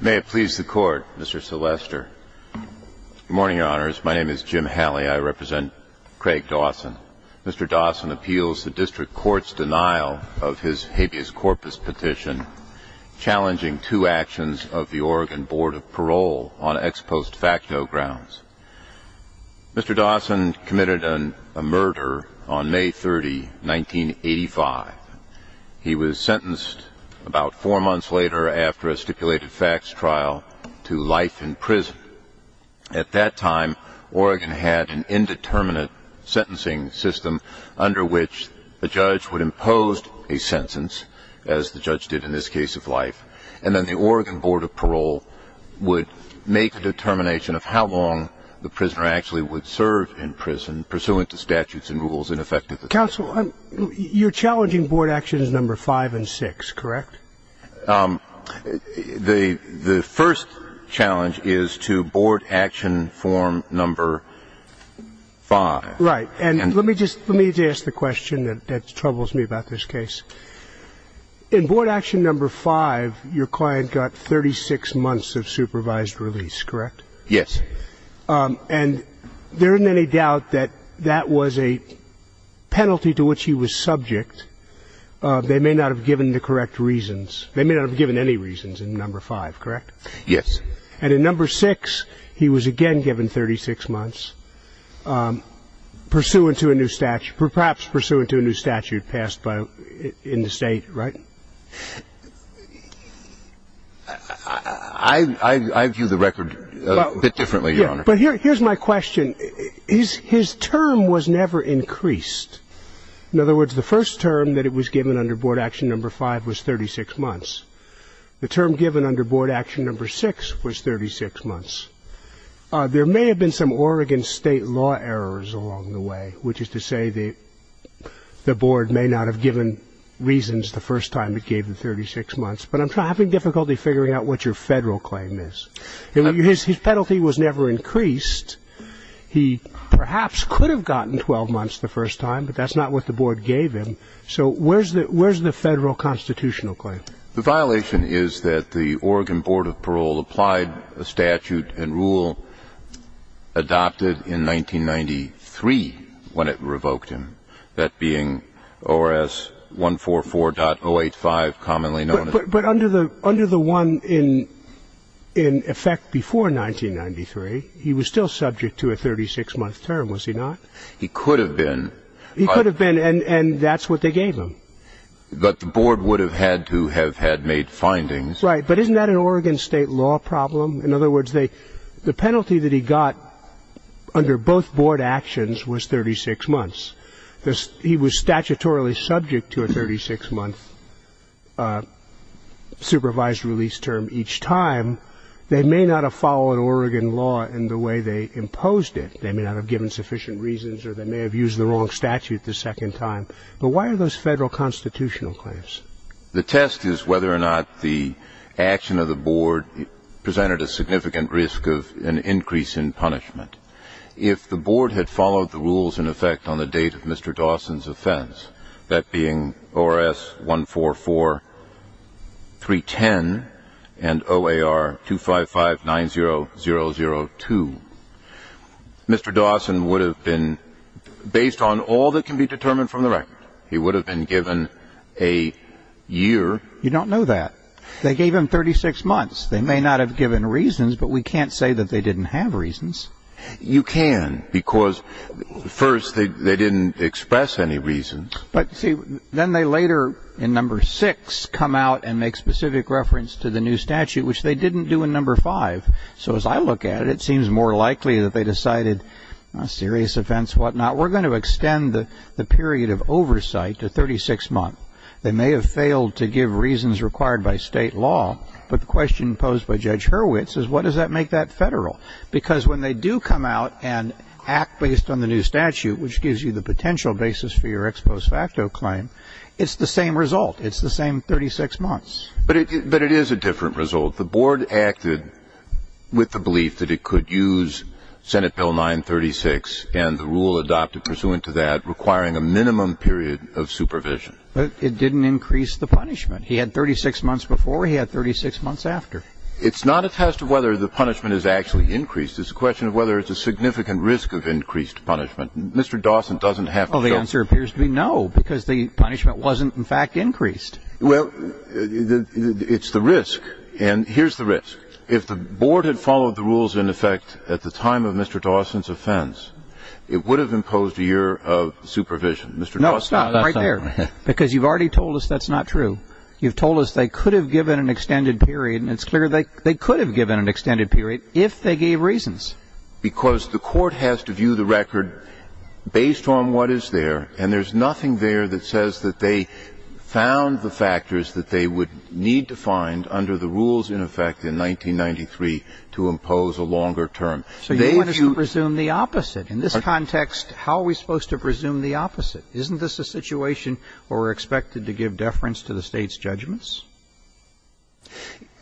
May it please the court, Mr. Selester. Good morning, Your Honors. My name is Jim Halley. I represent Craig Dawson. Mr. Dawson appeals the district court's denial of his habeas corpus petition challenging two actions of the Oregon Board of Parole on ex post facto grounds. Mr. Dawson committed a murder on May 30, 1985. He was sentenced about four months later after a stipulated facts trial to life in prison. At that time, Oregon had an indeterminate sentencing system under which a judge would impose a sentence, as the judge did in this case of life, and then the Oregon Board of Parole would make a determination of how long the prisoner actually would serve in prison, pursuant to statutes and rules in effect at the time. Counsel, you're challenging Board Actions No. 5 and 6, correct? The first challenge is to Board Action Form No. 5. Right. And let me just ask the question that troubles me about this case. In Board Action No. 5, your client got 36 months of supervised release, correct? Yes. And there isn't any doubt that that was a penalty to which he was subject. They may not have given the correct reasons. They may not have given any reasons in No. 5, correct? Yes. And in No. 6, he was again given 36 months, perhaps pursuant to a new statute passed in the state, right? I view the record a bit differently, Your Honor. But here's my question. His term was never increased. In other words, the first term that it was given under Board Action No. 5 was 36 months. The term given under Board Action No. 6 was 36 months. There may have been some Oregon State law errors along the way, which is to say the Board may not have given reasons the first time it gave him 36 months. But I'm having difficulty figuring out what your federal claim is. His penalty was never increased. He perhaps could have gotten 12 months the first time, but that's not what the Board gave him. So where's the federal constitutional claim? The violation is that the Oregon Board of Parole applied a statute and rule adopted in 1993 when it revoked him, that being ORS 144.085, commonly known as the one in effect before 1993. He was still subject to a 36-month term, was he not? He could have been. He could have been, and that's what they gave him. But the Board would have had to have had made findings. Right, but isn't that an Oregon State law problem? In other words, the penalty that he got under both Board Actions was 36 months. He was statutorily subject to a 36-month supervised release term each time. They may not have followed Oregon law in the way they imposed it. They may not have given sufficient reasons, or they may have used the wrong statute the second time. But why are those federal constitutional claims? The test is whether or not the action of the Board presented a significant risk of an increase in punishment. If the Board had followed the rules in effect on the date of Mr. Dawson's offense, that being ORS 144.310 and OAR 255-9002, Mr. Dawson would have been, based on all that can be determined from the record, he would have been given a year. You don't know that. They gave him 36 months. They may not have given reasons, but we can't say that they didn't have reasons. You can, because, first, they didn't express any reasons. But, see, then they later, in No. 6, come out and make specific reference to the new statute, which they didn't do in No. 5. So, as I look at it, it seems more likely that they decided, serious offense, whatnot. We're going to extend the period of oversight to 36 months. They may have failed to give reasons required by state law, but the question posed by Judge Hurwitz is, what does that make that federal? Because when they do come out and act based on the new statute, which gives you the potential basis for your ex post facto claim, it's the same result. It's the same 36 months. But it is a different result. The board acted with the belief that it could use Senate Bill 936 and the rule adopted pursuant to that requiring a minimum period of supervision. But it didn't increase the punishment. He had 36 months before. He had 36 months after. It's not a test of whether the punishment is actually increased. It's a question of whether it's a significant risk of increased punishment. Mr. Dawson doesn't have to know. Well, the answer appears to be no, because the punishment wasn't, in fact, increased. Well, it's the risk, and here's the risk. If the board had followed the rules in effect at the time of Mr. Dawson's offense, it would have imposed a year of supervision. No, stop right there, because you've already told us that's not true. You've told us they could have given an extended period, and it's clear they could have given an extended period if they gave reasons. Because the court has to view the record based on what is there, and there's nothing there that says that they found the factors that they would need to find under the rules in effect in 1993 to impose a longer term. So you want us to presume the opposite. In this context, how are we supposed to presume the opposite? Isn't this a situation where we're expected to give deference to the State's judgments?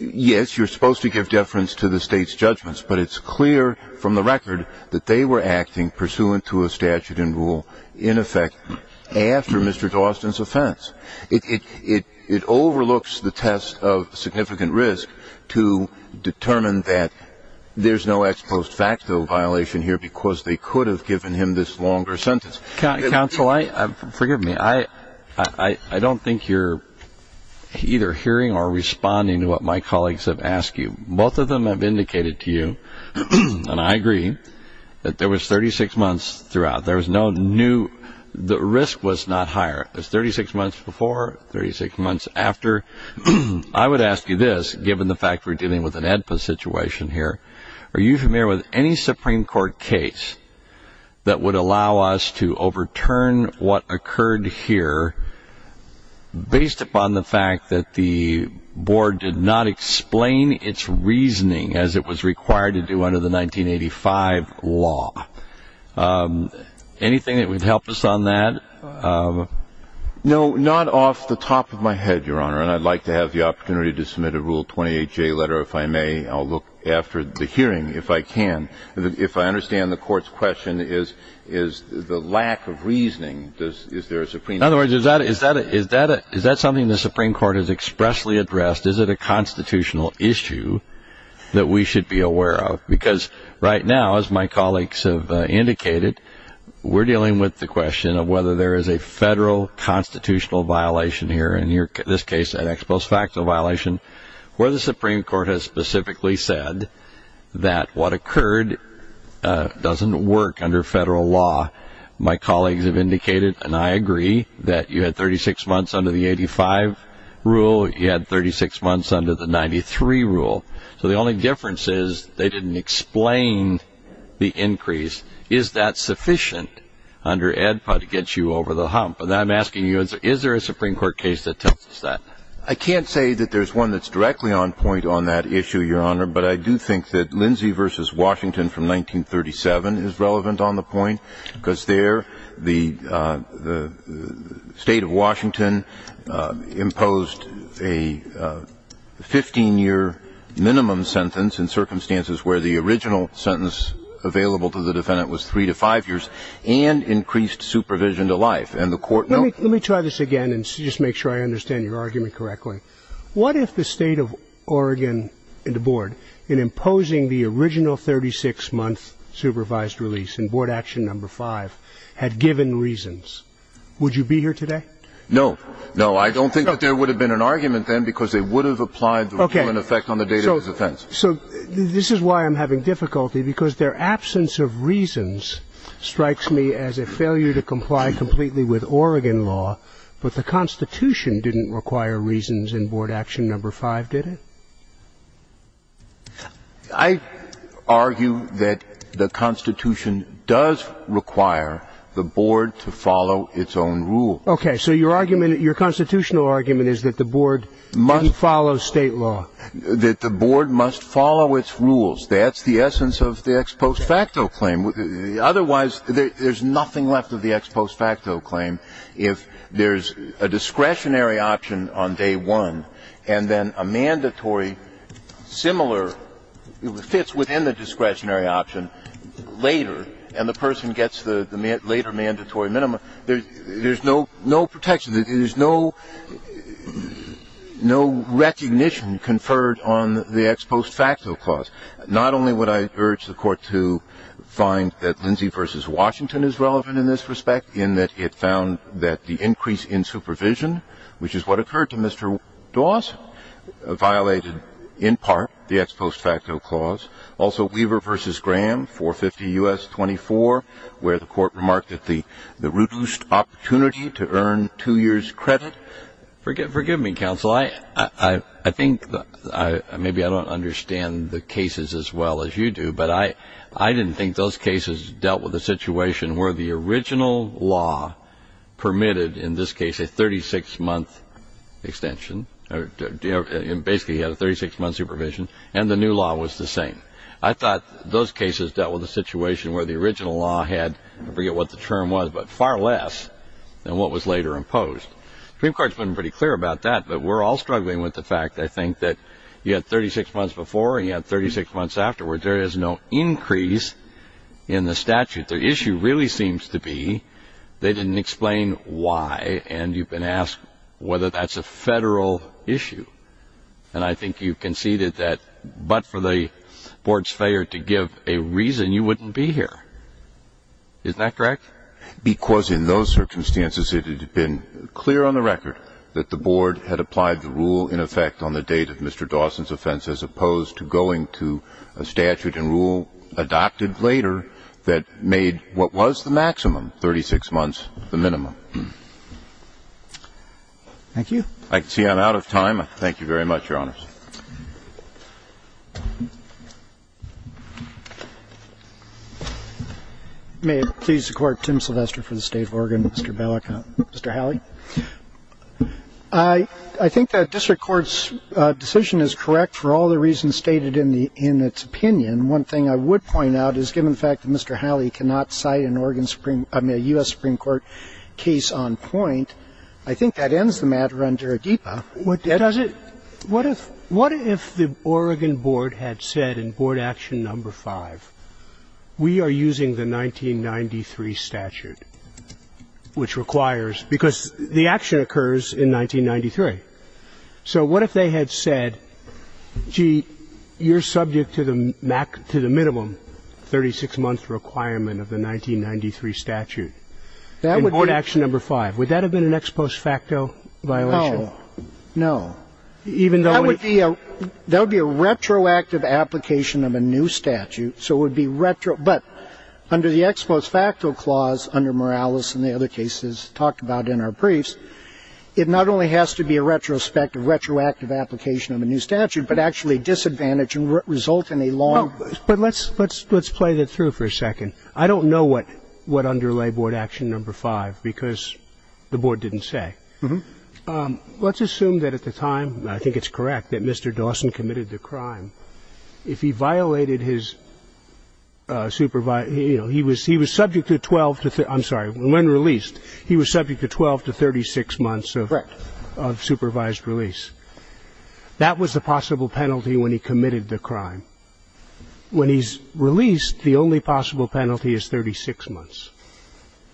Yes, you're supposed to give deference to the State's judgments, but it's clear from the record that they were acting pursuant to a statute and rule in effect after Mr. Dawson's offense. It overlooks the test of significant risk to determine that there's no ex post facto violation here because they could have given him this longer sentence. Counsel, forgive me. I don't think you're either hearing or responding to what my colleagues have asked you. Both of them have indicated to you, and I agree, that there was 36 months throughout. The risk was not higher. It was 36 months before, 36 months after. I would ask you this, given the fact we're dealing with an AEDPA situation here. Are you familiar with any Supreme Court case that would allow us to overturn what occurred here based upon the fact that the board did not explain its reasoning as it was required to do under the 1985 law? Anything that would help us on that? No, not off the top of my head, Your Honor, and I'd like to have the opportunity to submit a Rule 28J letter if I may. I'll look after the hearing if I can. If I understand the Court's question, is the lack of reasoning, is there a Supreme Court? In other words, is that something the Supreme Court has expressly addressed? Is it a constitutional issue that we should be aware of? Because right now, as my colleagues have indicated, we're dealing with the question of whether there is a federal constitutional violation here, in this case, an ex post facto violation, where the Supreme Court has specifically said that what occurred doesn't work under federal law. My colleagues have indicated, and I agree, that you had 36 months under the 85 rule. You had 36 months under the 93 rule. So the only difference is they didn't explain the increase. Is that sufficient under AEDPA to get you over the hump? And I'm asking you, is there a Supreme Court case that tells us that? I can't say that there's one that's directly on point on that issue, Your Honor, but I do think that Lindsay v. Washington from 1937 is relevant on the point because there the State of Washington imposed a 15-year minimum sentence in circumstances where the original sentence available to the defendant was 3 to 5 years and increased supervision to life. And the Court noted that. Let me try this again and just make sure I understand your argument correctly. What if the State of Oregon and the Board, in imposing the original 36-month supervised release in Board Action No. 5, had given reasons? Would you be here today? No. No. I don't think that there would have been an argument then because they would have applied to an effect on the date of his offense. Okay. So this is why I'm having difficulty because their absence of reasons strikes me as a failure to comply completely with Oregon law, but the Constitution didn't require reasons in Board Action No. 5, did it? I argue that the Constitution does require the Board to follow its own rules. Okay. So your argument, your constitutional argument is that the Board must follow State law. That the Board must follow its rules. That's the essence of the ex post facto claim. Otherwise, there's nothing left of the ex post facto claim if there's a discretionary option on day one and then a mandatory similar fits within the discretionary option later and the person gets the later mandatory minimum. There's no protection. There's no recognition conferred on the ex post facto clause. Not only would I urge the Court to find that Lindsay v. Washington is relevant in this respect in that it found that the increase in supervision, which is what occurred to Mr. Dawes, violated in part the ex post facto clause, also Weaver v. Graham, 450 U.S. 24, where the Court remarked that the reduced opportunity to earn two years' credit. Forgive me, Counsel. Well, I think maybe I don't understand the cases as well as you do, but I didn't think those cases dealt with a situation where the original law permitted, in this case, a 36-month extension or basically had a 36-month supervision and the new law was the same. I thought those cases dealt with a situation where the original law had, I forget what the term was, but far less than what was later imposed. The Supreme Court's been pretty clear about that, but we're all struggling with the fact, I think, that you had 36 months before and you had 36 months afterwards. There is no increase in the statute. The issue really seems to be they didn't explain why, and you've been asked whether that's a federal issue. And I think you conceded that but for the Board's failure to give a reason, you wouldn't be here. Isn't that correct? Because in those circumstances, it had been clear on the record that the Board had applied the rule in effect on the date of Mr. Dawson's offense as opposed to going to a statute and rule adopted later that made what was the maximum, 36 months, the minimum. Thank you. I can see I'm out of time. Thank you very much, Your Honors. May it please the Court, Tim Sylvester for the State of Oregon, Mr. Bellicott. Mr. Howley. I think that district court's decision is correct for all the reasons stated in its opinion. One thing I would point out is given the fact that Mr. Howley cannot cite an Oregon Supreme – I mean, a U.S. Supreme Court case on point, I think that ends the matter under ADEPA. Does it? What if the Oregon Board had said in Board Action No. 5, we are using the 1993 statute, which requires – because the action occurs in 1993. So what if they had said, gee, you're subject to the minimum 36-month requirement of the 1993 statute in Board Action No. 5? Would that have been an ex post facto violation? No. No. That would be a retroactive application of a new statute. So it would be retro – but under the ex post facto clause under Morales and the other cases talked about in our briefs, it not only has to be a retrospective, retroactive application of a new statute, but actually disadvantage and result in a long – But let's play that through for a second. I don't know what underlay Board Action No. 5 because the board didn't say. Let's assume that at the time, I think it's correct, that Mr. Dawson committed the crime. If he violated his supervised – you know, he was subject to 12 to – I'm sorry, when released, he was subject to 12 to 36 months of supervised release. Correct. That was the possible penalty when he committed the crime. When he's released, the only possible penalty is 36 months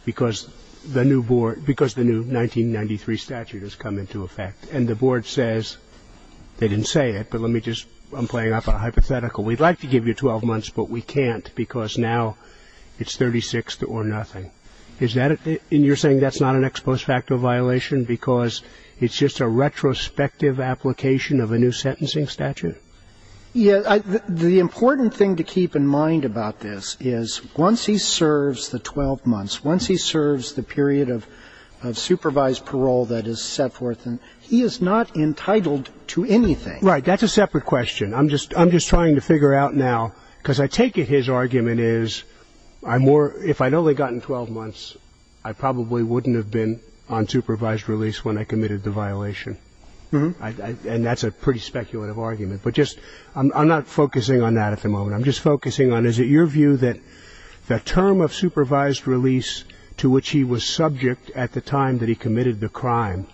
because the new board statute has come into effect. And the board says – they didn't say it, but let me just – I'm playing off a hypothetical. We'd like to give you 12 months, but we can't because now it's 36 or nothing. Is that – and you're saying that's not an ex post facto violation because it's just a retrospective application of a new sentencing statute? Yeah. The important thing to keep in mind about this is once he serves the 12 months, once he serves the period of supervised parole that is set forth, he is not entitled to anything. Right. That's a separate question. I'm just trying to figure out now – because I take it his argument is if I'd only gotten 12 months, I probably wouldn't have been on supervised release when I committed the violation. And that's a pretty speculative argument. But just – I'm not focusing on that at the moment. I'm just focusing on is it your view that the term of supervised release to which he was subject at the time that he committed the crime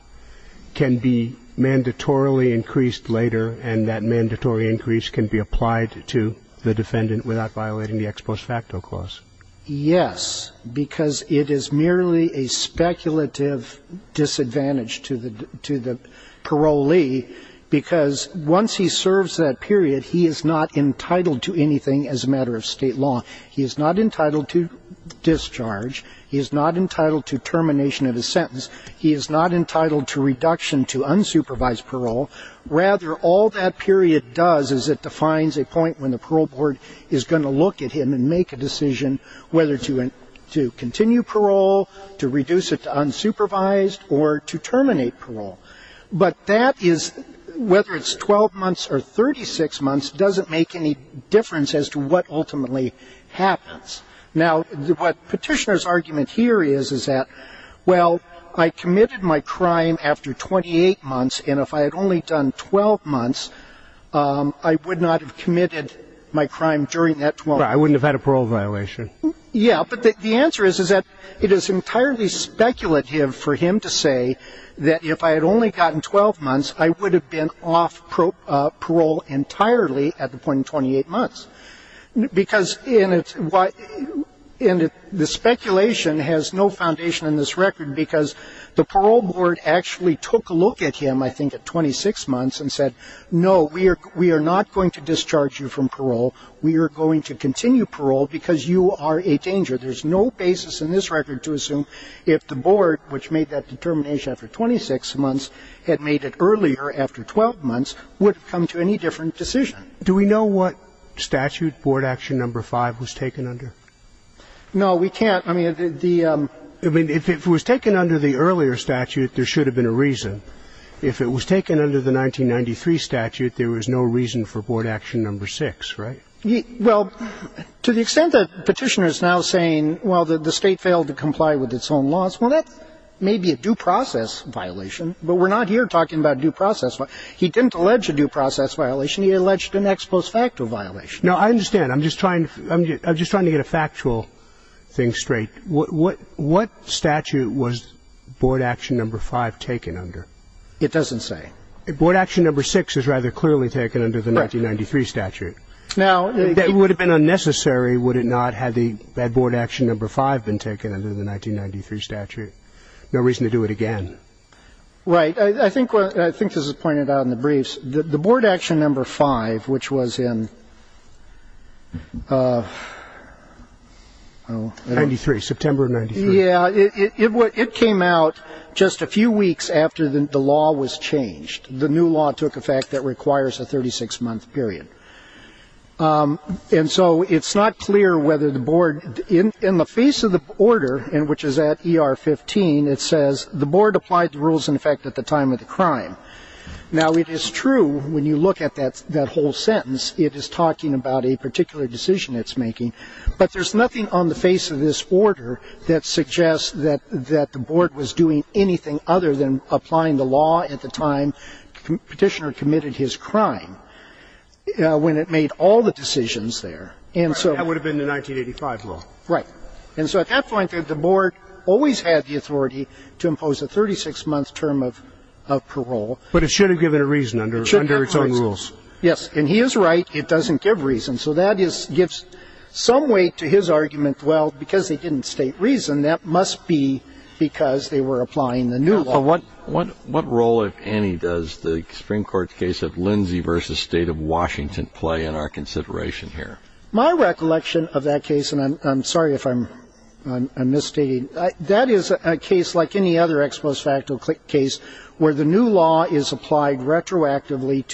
can be mandatorily increased later and that mandatory increase can be applied to the defendant without violating the ex post facto clause? Yes. Because it is merely a speculative disadvantage to the parolee because once he serves that period, he is not entitled to anything as a matter of state law. He is not entitled to discharge. He is not entitled to termination of his sentence. He is not entitled to reduction to unsupervised parole. Rather, all that period does is it defines a point when the parole board is going to look at him and make a decision whether to continue parole, to reduce it to unsupervised or to terminate parole. But that is – whether it's 12 months or 36 months doesn't make any difference as to what ultimately happens. Now, what Petitioner's argument here is is that, well, I committed my crime after 28 months and if I had only done 12 months, I would not have committed my crime during that 12 months. Right. I wouldn't have had a parole violation. Yeah. But the answer is that it is entirely speculative for him to say that if I had only gotten 12 months, I would have been off parole entirely at the point in 28 months. Because – and the speculation has no foundation in this record because the parole board actually took a look at him, I think, at 26 months and said, no, we are not going to discharge you from parole. We are going to continue parole because you are a danger. There's no basis in this record to assume if the board, which made that determination after 26 months, had made it earlier after 12 months, would have come to any different decision. Do we know what statute Board Action No. 5 was taken under? No, we can't. I mean, the – I mean, if it was taken under the earlier statute, there should have been a reason. If it was taken under the 1993 statute, there was no reason for Board Action No. 6, right? Well, to the extent that Petitioner is now saying, well, the State failed to comply with its own laws, well, that may be a due process violation. But we're not here talking about due process. He didn't allege a due process violation. He alleged an ex post facto violation. No, I understand. I'm just trying – I'm just trying to get a factual thing straight. What statute was Board Action No. 5 taken under? It doesn't say. Board Action No. 6 is rather clearly taken under the 1993 statute. Now – If that would have been unnecessary, would it not had the – had Board Action No. 5 been taken under the 1993 statute? No reason to do it again. Right. I think – I think this is pointed out in the briefs. The Board Action No. 5, which was in – 93, September of 93. Yeah. It came out just a few weeks after the law was changed. The new law took effect that requires a 36-month period. And so it's not clear whether the Board – in the face of the order, which is at ER 15, it says the Board applied the rules in effect at the time of the crime. Now, it is true when you look at that whole sentence, it is talking about a particular decision it's making. But there's nothing on the face of this order that suggests that the Board was doing anything other than applying the law at the time Petitioner committed his crime, when it made all the decisions there. And so – That would have been the 1985 law. Right. And so at that point, the Board always had the authority to impose a 36-month term of parole. But it should have given a reason under its own rules. Yes. And he is right. It doesn't give reason. So that gives some weight to his argument, well, because they didn't state reason, that must be because they were applying the new law. What role, if any, does the Supreme Court's case of Lindsay v. State of Washington play in our consideration here? My recollection of that case – and I'm sorry if I'm misstating – that is a case like any other ex post facto case where the new law is applied retroactively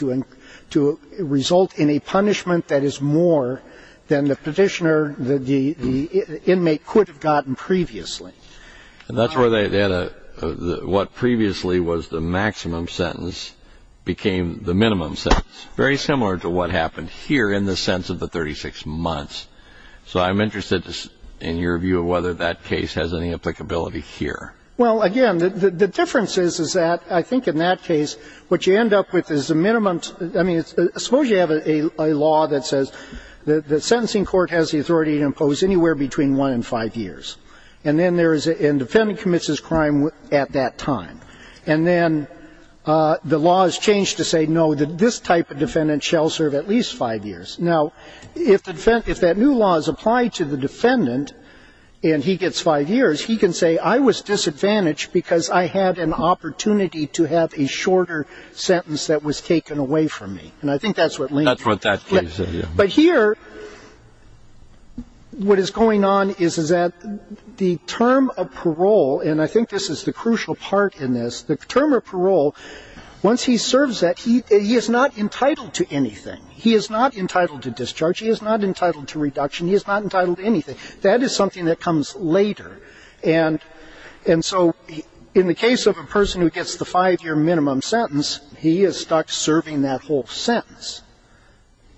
to result in a punishment that is more than the Petitioner, the inmate could have gotten previously. And that's where they had a – what previously was the maximum sentence became the minimum sentence. Very similar to what happened here in the sense of the 36 months. So I'm interested in your view of whether that case has any applicability here. Well, again, the difference is that I think in that case what you end up with is a minimum – I mean, suppose you have a law that says the sentencing court has the authority to impose anywhere between one and five years. And then there is – and the defendant commits his crime at that time. And then the law is changed to say, no, this type of defendant shall serve at least five years. Now, if the – if that new law is applied to the defendant and he gets five years, he can say I was disadvantaged because I had an opportunity to have a shorter sentence that was taken away from me. And I think that's what – Not for that case. But here what is going on is that the term of parole, and I think this is the crucial part in this, the term of parole, once he serves that, he is not entitled to anything. He is not entitled to discharge. He is not entitled to reduction. He is not entitled to anything. That is something that comes later. And so in the case of a person who gets the five-year minimum sentence, he is stuck serving that whole sentence.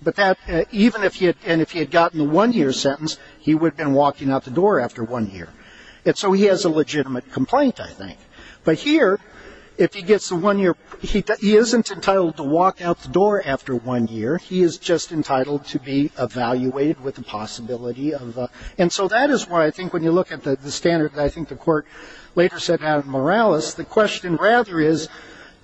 But that – even if he had gotten the one-year sentence, he would have been walking out the door after one year. And so he has a legitimate complaint, I think. But here, if he gets the one-year – he isn't entitled to walk out the door after one year. He is just entitled to be evaluated with the possibility of a – and so that is why I think when you look at the standard that I think the court later set out in Morales, the question rather is,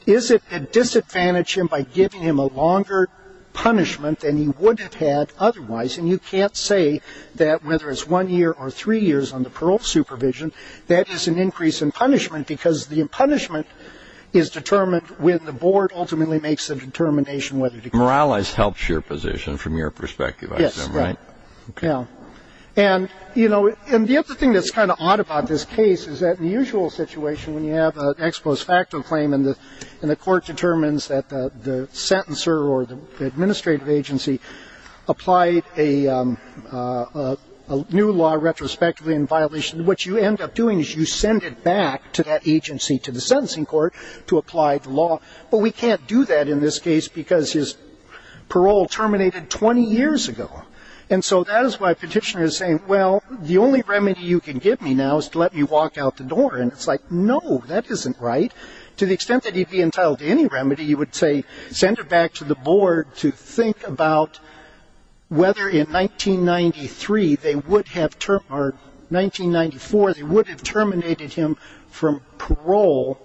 is it a disadvantage him by giving him a longer punishment than he would have had otherwise? And you can't say that whether it's one year or three years on the parole supervision, that is an increase in punishment because the punishment is determined when the board ultimately makes the determination whether to give him – Morales helps your position from your perspective, I assume, right? Yes, right. Okay. And, you know, and the other thing that's kind of odd about this case is that in the usual situation, when you have an ex post facto claim and the court determines that the sentencer or the administrative agency applied a new law retrospectively in violation, what you end up doing is you send it back to that agency, to the sentencing court, to apply the law. But we can't do that in this case because his parole terminated 20 years ago. And so that is why a petitioner is saying, well, the only remedy you can give me now is to let me walk out the door. And it's like, no, that isn't right. To the extent that he'd be entitled to any remedy, you would say send it back to the board to think about whether in 1993 they would have – or 1994 they would have terminated him from parole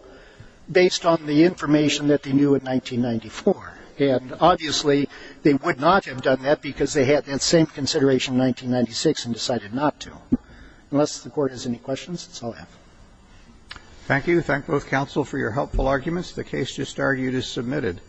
based on the information that they knew in 1994. And obviously, they would not have done that because they had that same consideration in 1996 and decided not to. Unless the Court has any questions, that's all I have. Thank you. Thank both counsel for your helpful arguments. The case just argued is submitted.